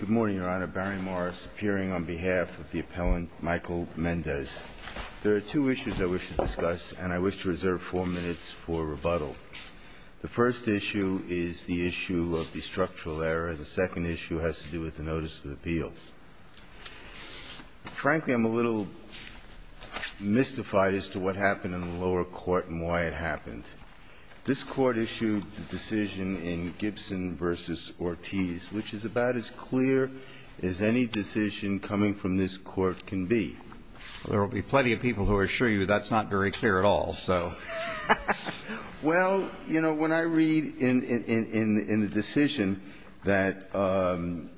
Good morning, Your Honor. Barry Morris appearing on behalf of the appellant Michael Mendez. There are two issues I wish to discuss, and I wish to reserve four minutes for rebuttal. The first issue is the issue of the structural error. The second issue has to do with the notice of appeal. Frankly, I'm a little mystified as to what happened in the lower court and why it happened. This court issued the decision in Gibson v. Ortiz, which is about as clear as any decision coming from this court can be. There will be plenty of people who assure you that's not very clear at all, so. Well, you know, when I read in the decision that CALJIC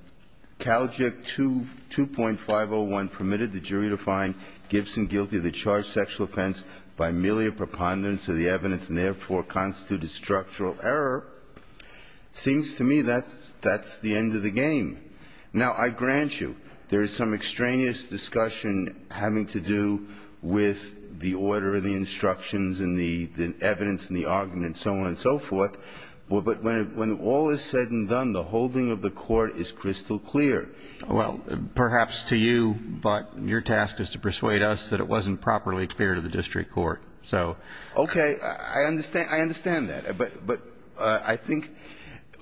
2.501 permitted the jury to find Gibson guilty of the charged sexual offense by merely a preponderance of the evidence and therefore constituted structural error, it seems to me that's the end of the game. Now, I grant you there is some extraneous discussion having to do with the order of the instructions and the evidence and the argument and so on and so forth, but when all is said and done, the holding of the court is crystal clear. Well, perhaps to you, but your task is to persuade us that it wasn't properly clear to the district court, so. Okay. I understand that. But I think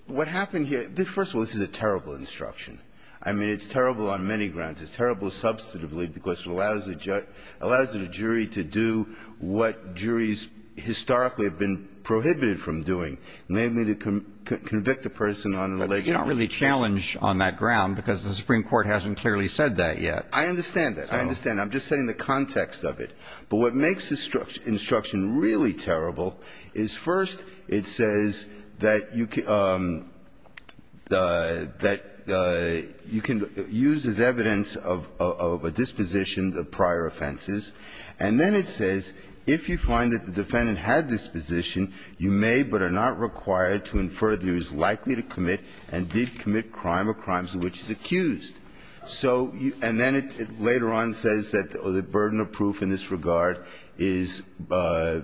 what happened here, first of all, this is a terrible instruction. I mean, it's terrible on many grounds. It's terrible substantively because it allows the jury to do what juries historically have been prohibited from doing, namely to convict a person on an alleged religious offense. But you don't really challenge on that ground because the Supreme Court hasn't clearly said that yet. I understand that. I understand. I'm just setting the context of it. But what makes this instruction really terrible is, first, it says that you can use as evidence of a disposition of prior offenses. And then it says, if you find that the defendant had disposition, you may but are not required to infer that he was likely to commit and did commit crime or crimes of which he is accused. So you – and then it later on says that the burden of proof in this regard is by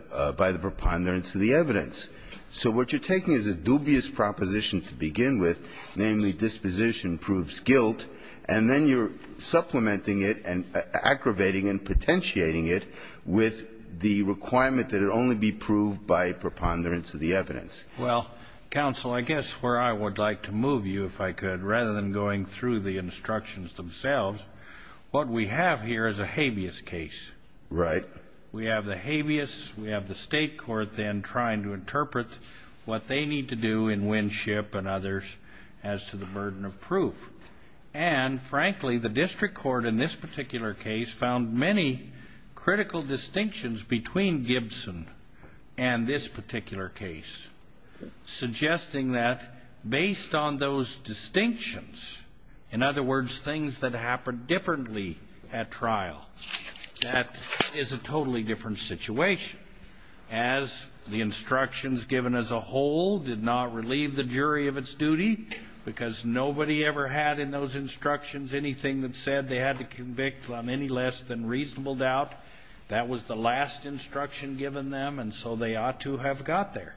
the preponderance of the evidence. So what you're taking is a dubious proposition to begin with, namely disposition proves guilt, and then you're supplementing it and aggravating and potentiating it with the requirement that it only be proved by preponderance of the evidence. Well, counsel, I guess where I would like to move you, if I could, rather than going through the instructions themselves, what we have here is a habeas case. Right. We have the habeas. We have the State court then trying to interpret what they need to do in Winship and others as to the burden of proof. And, frankly, the district court in this particular case found many critical distinctions between Gibson and this particular case, suggesting that based on those distinctions, in other words, things that happened differently at trial, that is a totally different situation, as the instructions given as a whole did not relieve the jury of its duty because nobody ever had in those instructions anything that said they had to convict on any less than reasonable doubt. That was the last instruction given them, and so they ought to have got there.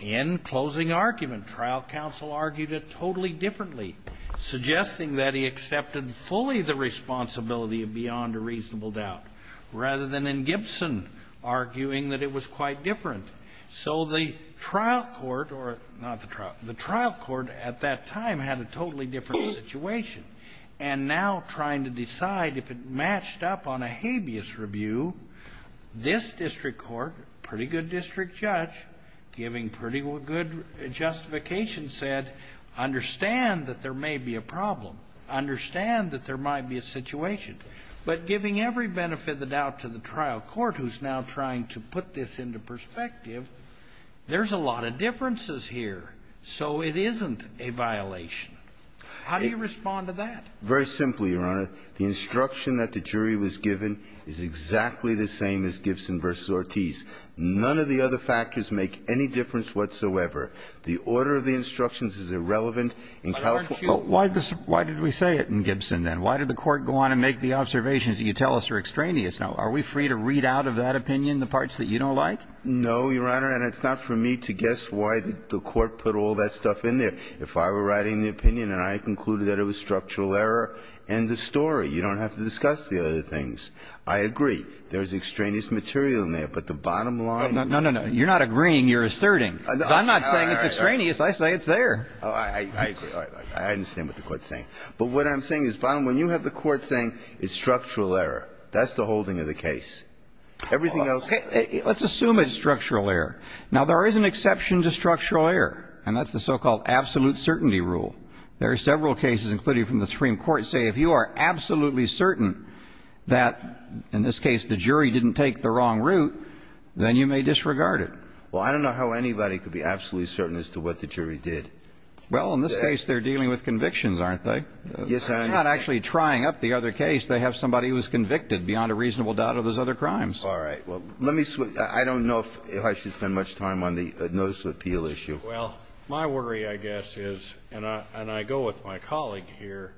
In closing argument, trial counsel argued it totally differently, suggesting that he accepted fully the responsibility of beyond a reasonable doubt, rather than in Gibson arguing that it was quite different. So the trial court or not the trial, the trial court at that time had a totally different situation, and now trying to decide if it matched up on a habeas review, this district court, pretty good district judge, giving pretty good justification said, understand that there may be a problem, understand that there might be a situation. But giving every benefit of the doubt to the trial court who's now trying to put this into perspective, there's a lot of differences here, so it isn't a violation. How do you respond to that? Very simply, Your Honor. The instruction that the jury was given is exactly the same as Gibson v. Ortiz. None of the other factors make any difference whatsoever. The order of the instructions is irrelevant in California. Why did we say it in Gibson, then? Why did the Court go on and make the observations that you tell us are extraneous? Now, are we free to read out of that opinion the parts that you don't like? No, Your Honor, and it's not for me to guess why the Court put all that stuff in there. If I were writing the opinion and I concluded that it was structural error, end of story. You don't have to discuss the other things. I agree. There's extraneous material in there, but the bottom line is not. No, no, no. You're not agreeing. You're asserting. I'm not saying it's extraneous. I say it's there. Oh, I agree. I understand what the Court's saying. But what I'm saying is, bottom line, you have the Court saying it's structural That's the holding of the case. Everything else is. Let's assume it's structural error. Now, there is an exception to structural error, and that's the so-called absolute certainty rule. There are several cases, including from the Supreme Court, say if you are absolutely certain that, in this case, the jury didn't take the wrong route, then you may disregard it. Well, I don't know how anybody could be absolutely certain as to what the jury did. Well, in this case, they're dealing with convictions, aren't they? Yes, I understand. They're not actually trying up the other case. They have somebody who was convicted beyond a reasonable doubt of those other crimes. All right. Well, let me switch. I don't know if I should spend much time on the notice of appeal issue. Well, my worry, I guess, is, and I go with my colleague here,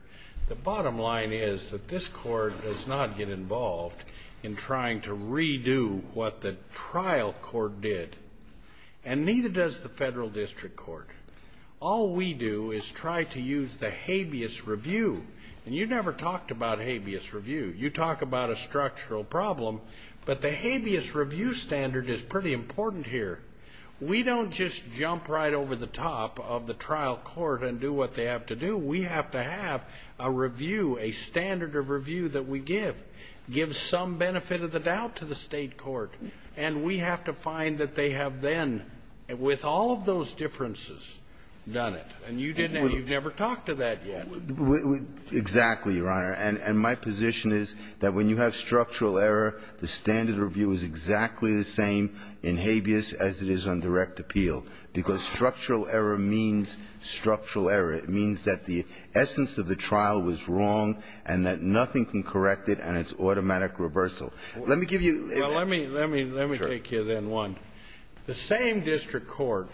the bottom line is that this Court does not get involved in trying to redo what the trial court did, and neither does the Federal district court. All we do is try to use the habeas review. And you never talked about habeas review. You talk about a structural problem, but the habeas review standard is pretty important here. We don't just jump right over the top of the trial court and do what they have to do. We have to have a review, a standard of review that we give, give some benefit of the doubt to the State court. And we have to find that they have then, with all of those differences, done it. And you didn't. And you've never talked to that yet. Exactly, Your Honor. And my position is that when you have structural error, the standard review is exactly the same in habeas as it is on direct appeal. Because structural error means structural error. It means that the essence of the trial was wrong, and that nothing can correct it, and it's automatic reversal. Let me give you an example. Well, let me take you then one. The same district court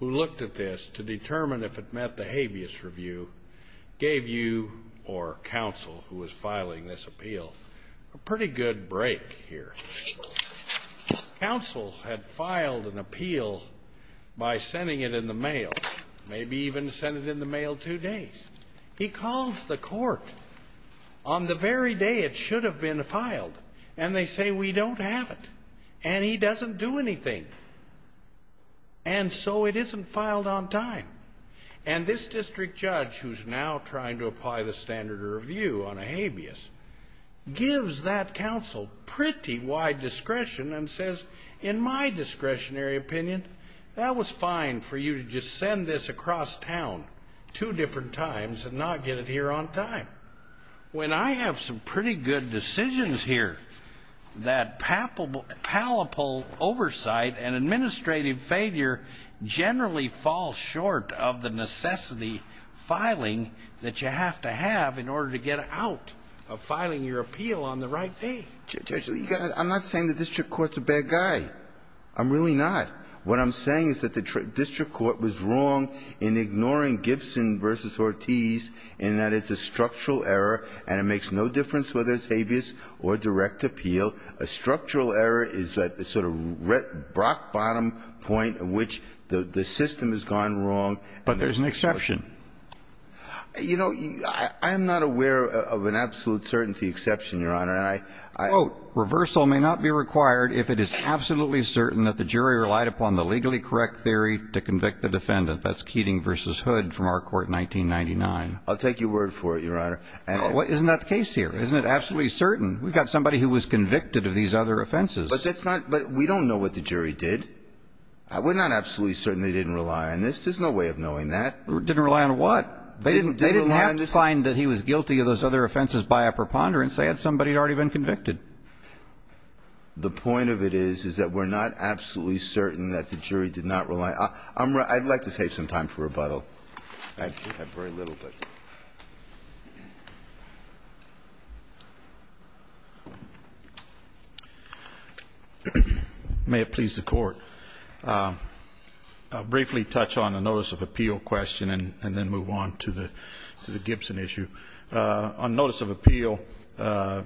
who looked at this to determine if it met the habeas review gave you or counsel who was filing this appeal a pretty good break here. Counsel had filed an appeal by sending it in the mail, maybe even sent it in the mail two days. He calls the court on the very day it should have been filed, and they say, we don't have it. And he doesn't do anything. And so it isn't filed on time. And this district judge, who's now trying to apply the standard review on a habeas, gives that counsel pretty wide discretion and says, in my discretionary opinion, that was fine for you to just send this across town two different times and not get it here on time. When I have some pretty good decisions here, that palpable oversight and administrative failure generally falls short of the necessity filing that you have to have in order to get out of filing your appeal on the right day. Judge, I'm not saying the district court's a bad guy. I'm really not. What I'm saying is that the district court was wrong in ignoring Gibson v. Ortiz in that it's a structural error, and it makes no difference whether it's habeas or direct appeal. A structural error is that sort of rock-bottom point in which the system has gone wrong. But there's an exception. You know, I am not aware of an absolute certainty exception, Your Honor. And I — Quote, reversal may not be required if it is absolutely certain that the jury relied upon the legally correct theory to convict the defendant. That's Keating v. Hood from our court in 1999. I'll take your word for it, Your Honor. Isn't that the case here? Isn't it absolutely certain? We've got somebody who was convicted of these other offenses. But that's not — but we don't know what the jury did. We're not absolutely certain they didn't rely on this. There's no way of knowing that. Didn't rely on what? They didn't have to find that he was guilty of those other offenses by a preponderance. They had somebody who had already been convicted. The point of it is is that we're not absolutely certain that the jury did not rely — I'd like to save some time for rebuttal. I have very little, but. May it please the Court. I'll briefly touch on a notice of appeal question and then move on to the Gibson issue. On notice of appeal, I've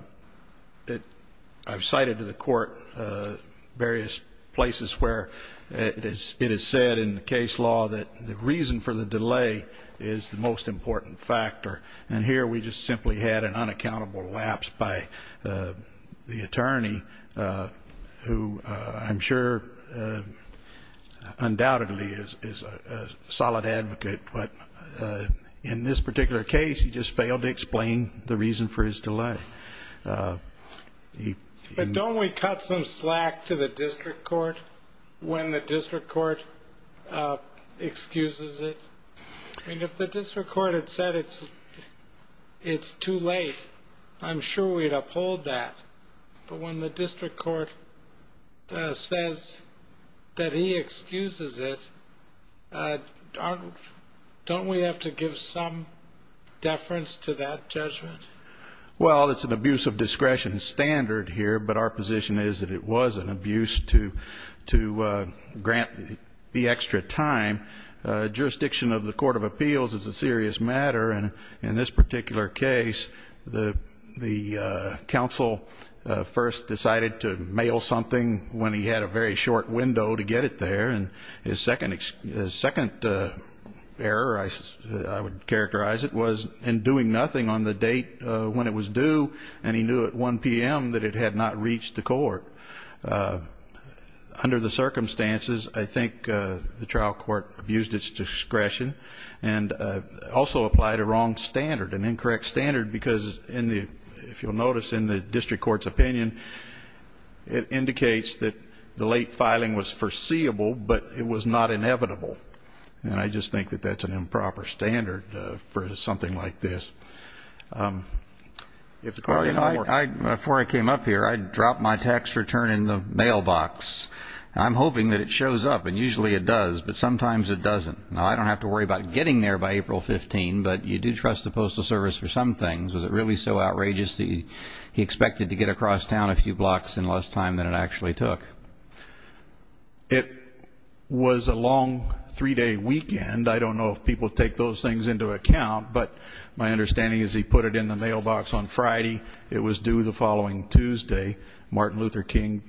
cited to the Court various places where it is said in the case law that the reason for the delay is the most important factor. And here we just simply had an unaccountable lapse by the attorney, who I'm sure undoubtedly is a solid advocate. But in this particular case, he just failed to explain the reason for his delay. But don't we cut some slack to the district court when the district court excuses it? I mean, if the district court had said it's too late, I'm sure we'd uphold that. But when the district court says that he excuses it, don't we have to give some deference to that judgment? Well, it's an abuse of discretion standard here, but our position is that it was an abuse to grant the extra time. Jurisdiction of the court of appeals is a serious matter. And in this particular case, the counsel first decided to mail something when he had a very short window to get it there. And his second error, I would characterize it, was in doing nothing on the date when it was due, and he knew at 1 p.m. that it had not reached the court. Under the circumstances, I think the trial court abused its discretion and also applied a wrong standard, an incorrect standard, because if you'll notice in the district court's opinion, it indicates that the late filing was foreseeable, but it was not inevitable. And I just think that that's an improper standard for something like this. Before I came up here, I dropped my tax return in the mailbox. I'm hoping that it shows up, and usually it does, but sometimes it doesn't. Now, I don't have to worry about getting there by April 15, but you do trust the Postal Service for some things. Was it really so outrageous that he expected to get across town a few blocks in less time than it actually took? It was a long three-day weekend. I don't know if people take those things into account, but my understanding is he put it in the mailbox on Friday, it was due the following Tuesday, Martin Luther King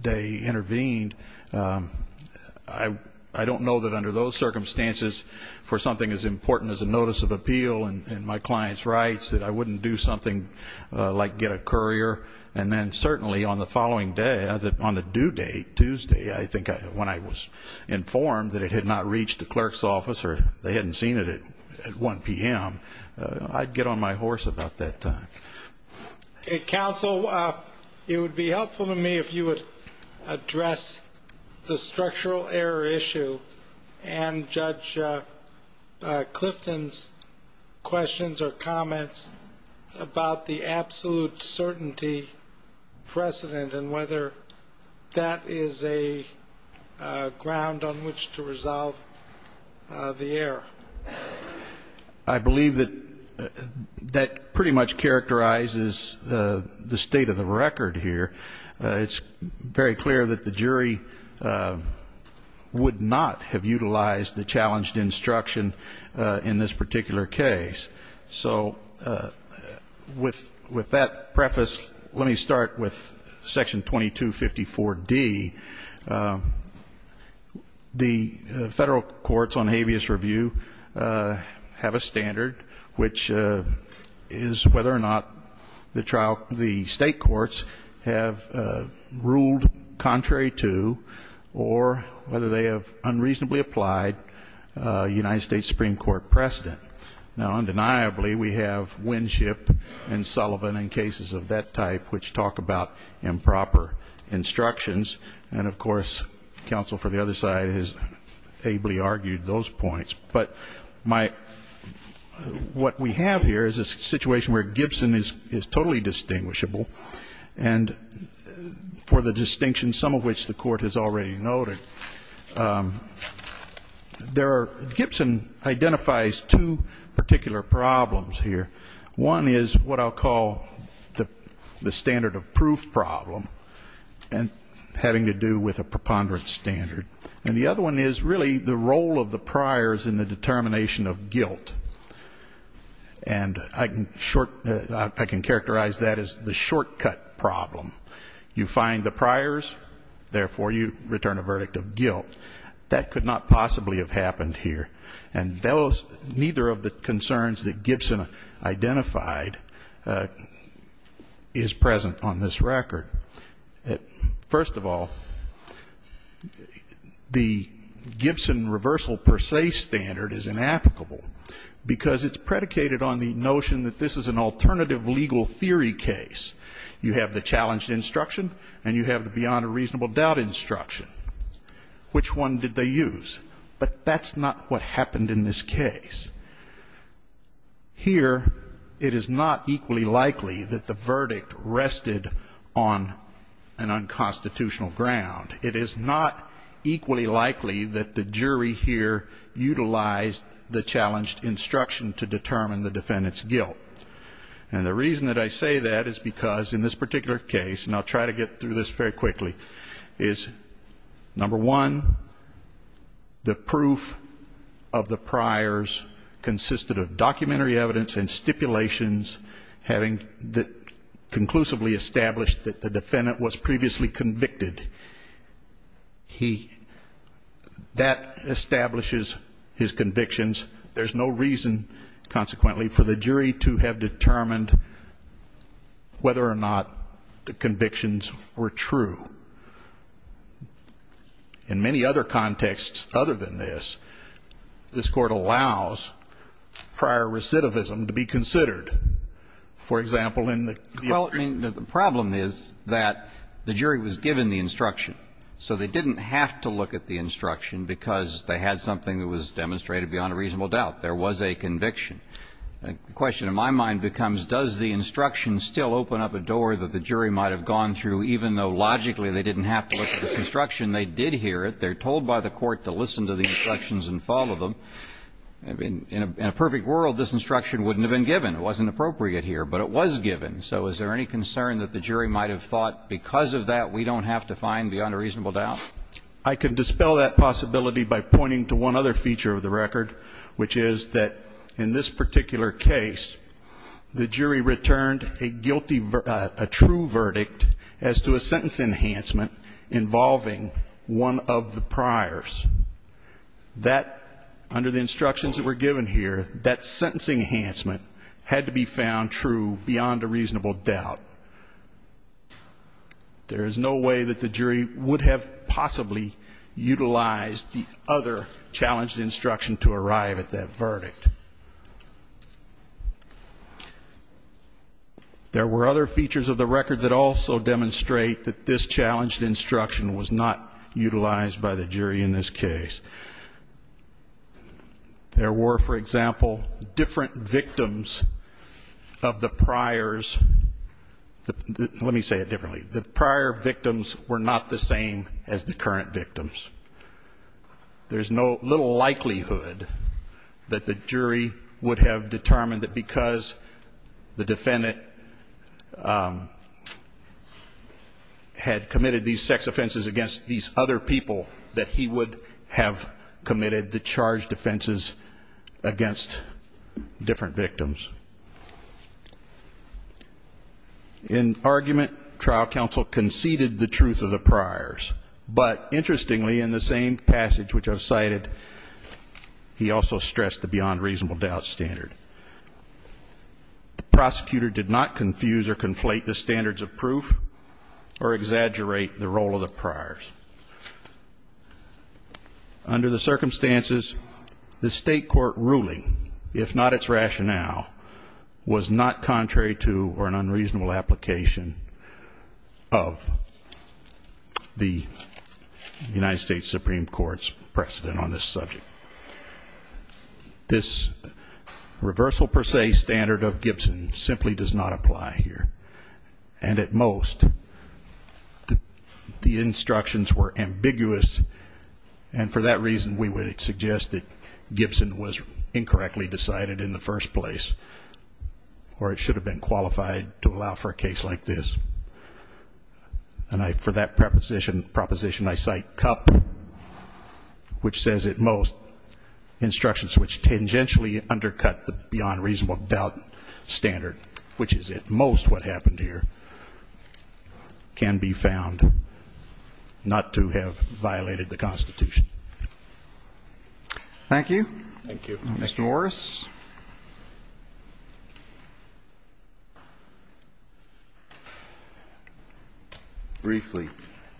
Day intervened. I don't know that under those circumstances, for something as important as a notice of appeal and my client's rights, that I wouldn't do something like get a courier. And then certainly on the following day, on the due date, Tuesday, I think when I was informed that it had not reached the clerk's office or they hadn't seen it at 1 p.m., I'd get on my horse about that time. Counsel, it would be helpful to me if you would address the structural error issue and Judge Clifton's questions or comments about the absolute certainty precedent and whether that is a ground on which to resolve the error. I believe that that pretty much characterizes the state of the record here. It's very clear that the jury would not have utilized the challenged instruction in this particular case. So with that preface, let me start with Section 2254D. The federal courts on habeas review have a standard, which is whether or not the state courts have ruled contrary to or whether they have unreasonably applied United States Supreme Court precedent. Now, undeniably, we have Winship and Sullivan in cases of that type, which talk about improper instructions. And, of course, counsel for the other side has ably argued those points. But what we have here is a situation where Gibson is totally distinguishable. And for the distinction, some of which the court has already noted, Gibson identifies two particular problems here. One is what I'll call the standard of proof problem, having to do with a preponderance standard. And the other one is really the role of the priors in the determination of guilt. And I can characterize that as the shortcut problem. You find the priors, therefore you return a verdict of guilt. That could not possibly have happened here. And those ñ neither of the concerns that Gibson identified is present on this record. First of all, the Gibson reversal per se standard is inapplicable because it's predicated on the notion that this is an alternative legal theory case. You have the challenged instruction and you have the beyond a reasonable doubt instruction. Which one did they use? But that's not what happened in this case. Here, it is not equally likely that the verdict rested on an unconstitutional ground. It is not equally likely that the jury here utilized the challenged instruction to determine the defendant's guilt. And the reason that I say that is because in this particular case, and I'll try to get through this very quickly, is, number one, the proof of the priors consisted of documentary evidence and stipulations having conclusively established that the defendant was previously convicted. He ñ that establishes his convictions. There's no reason, consequently, for the jury to have determined whether or not the convictions were true. In many other contexts other than this, this Court allows prior recidivism to be considered. For example, in the ñ Well, I mean, the problem is that the jury was given the instruction. So they didn't have to look at the instruction because they had something that was demonstrated beyond a reasonable doubt. There was a conviction. The question in my mind becomes, does the instruction still open up a door that the jury might have gone through even though logically they didn't have to look at this instruction? They did hear it. They're told by the Court to listen to the instructions and follow them. In a perfect world, this instruction wouldn't have been given. It wasn't appropriate here, but it was given. So is there any concern that the jury might have thought, because of that, we don't have to find beyond a reasonable doubt? I can dispel that possibility by pointing to one other feature of the record, which is that in this particular case, the jury returned a guilty ñ a true verdict as to a sentence enhancement involving one of the priors. That, under the instructions that were given here, that sentence enhancement had to be found true beyond a reasonable doubt. There is no way that the jury would have possibly utilized the other challenged instruction to arrive at that verdict. There were other features of the record that also demonstrate that this challenged instruction was not utilized by the jury in this case. There were, for example, different victims of the priors ñ let me say it differently. The prior victims were not the same as the current victims. There's no ñ little likelihood that the jury would have determined that because the defendant had committed these sex offenses against these other people, that he would have committed the charged offenses against different victims. In argument, trial counsel conceded the truth of the priors, but interestingly, in the same passage which I've cited, he also stressed the beyond reasonable doubt standard. The prosecutor did not confuse or conflate the standards of proof or exaggerate the role of the priors. Under the circumstances, the state court ruling, if not its rationale, was not contrary to or an unreasonable application of the United States Supreme Court's precedent on this subject. This reversal per se standard of Gibson simply does not apply here, and at most the instructions were ambiguous, and for that reason, we would suggest that Gibson was incorrectly decided in the first place, or it should have been qualified to allow for a case like this. And for that proposition, I cite Cupp, which says at most instructions which tangentially undercut the beyond reasonable doubt standard, which is at most what happened here, can be found not to have violated the Constitution. Thank you. Mr. Morris. Briefly,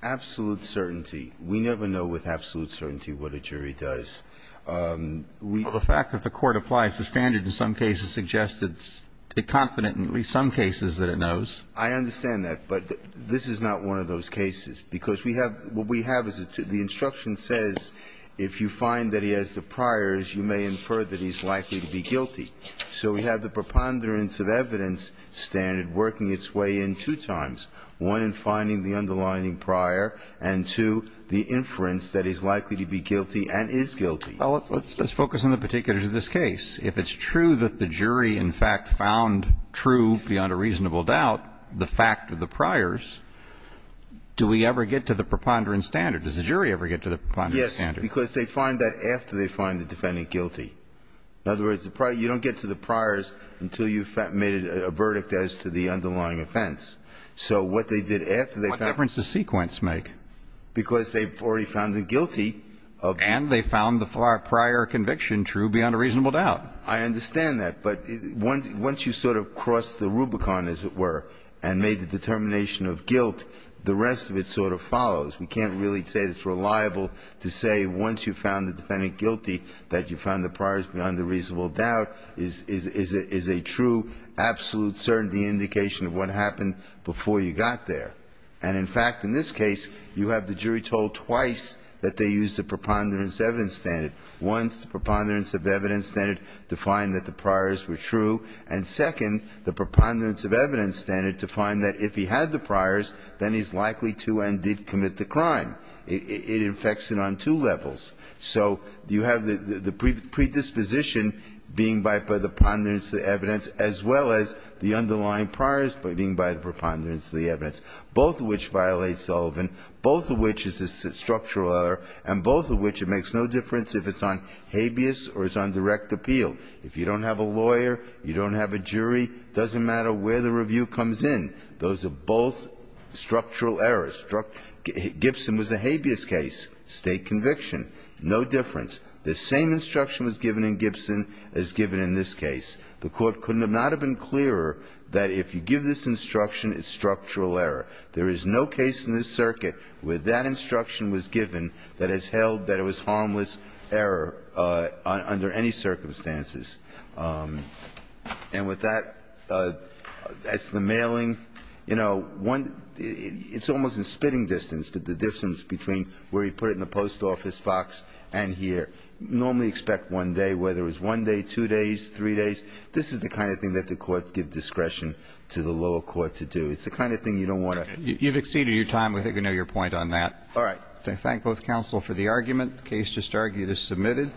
absolute certainty, we never know with absolute certainty what a jury does. The fact that the Court applies the standard in some cases suggests it's confident in at least some cases that it knows. I understand that, but this is not one of those cases, because we have what we have is the instruction says if you find that he has the priors, you may infer that he's likely to be guilty. So we have the preponderance of evidence standard working its way in two times, one in finding the underlying prior, and two, the inference that he's likely to be guilty and is guilty. Well, let's focus on the particulars of this case. If it's true that the jury in fact found true beyond a reasonable doubt the fact of the priors, do we ever get to the preponderance standard? Does the jury ever get to the preponderance standard? Yes, because they find that after they find the defendant guilty. In other words, you don't get to the priors until you've made a verdict as to the underlying offense. So what they did after they found the guilty. And they found the prior conviction true beyond a reasonable doubt. I understand that, but once you sort of cross the Rubicon, as it were, and made the determination of guilt, the rest of it sort of follows. We can't really say that it's reliable to say once you found the defendant guilty that you found the priors beyond a reasonable doubt is a true, absolute certainty indication of what happened before you got there. And in fact, in this case, you have the jury told twice that they used a preponderance evidence standard. Once, the preponderance of evidence standard defined that the priors were true, and second, the preponderance of evidence standard defined that if he had the priors, then he's likely to and did commit the crime. It infects it on two levels. So you have the predisposition being by the preponderance of the evidence as well as the underlying priors being by the preponderance of the evidence, both of which violate Sullivan, both of which is a structural error, and both of which it makes no difference if it's on habeas or it's on direct appeal. If you don't have a lawyer, you don't have a jury, it doesn't matter where the review comes in. Those are both structural errors. Gibson was a habeas case, state conviction, no difference. The same instruction was given in Gibson as given in this case. The Court could not have been clearer that if you give this instruction, it's structural error. There is no case in this circuit where that instruction was given that has held that it was harmless error under any circumstances. And with that, as to the mailing, you know, one, it's almost a spitting distance, but the difference between where you put it in the post office box and here, normally expect one day, whether it's one day, two days, three days. This is the kind of thing that the Court gives discretion to the lower court to do. It's the kind of thing you don't want to. You've exceeded your time. We think we know your point on that. All right. I thank both counsel for the argument. The case just argued is submitted.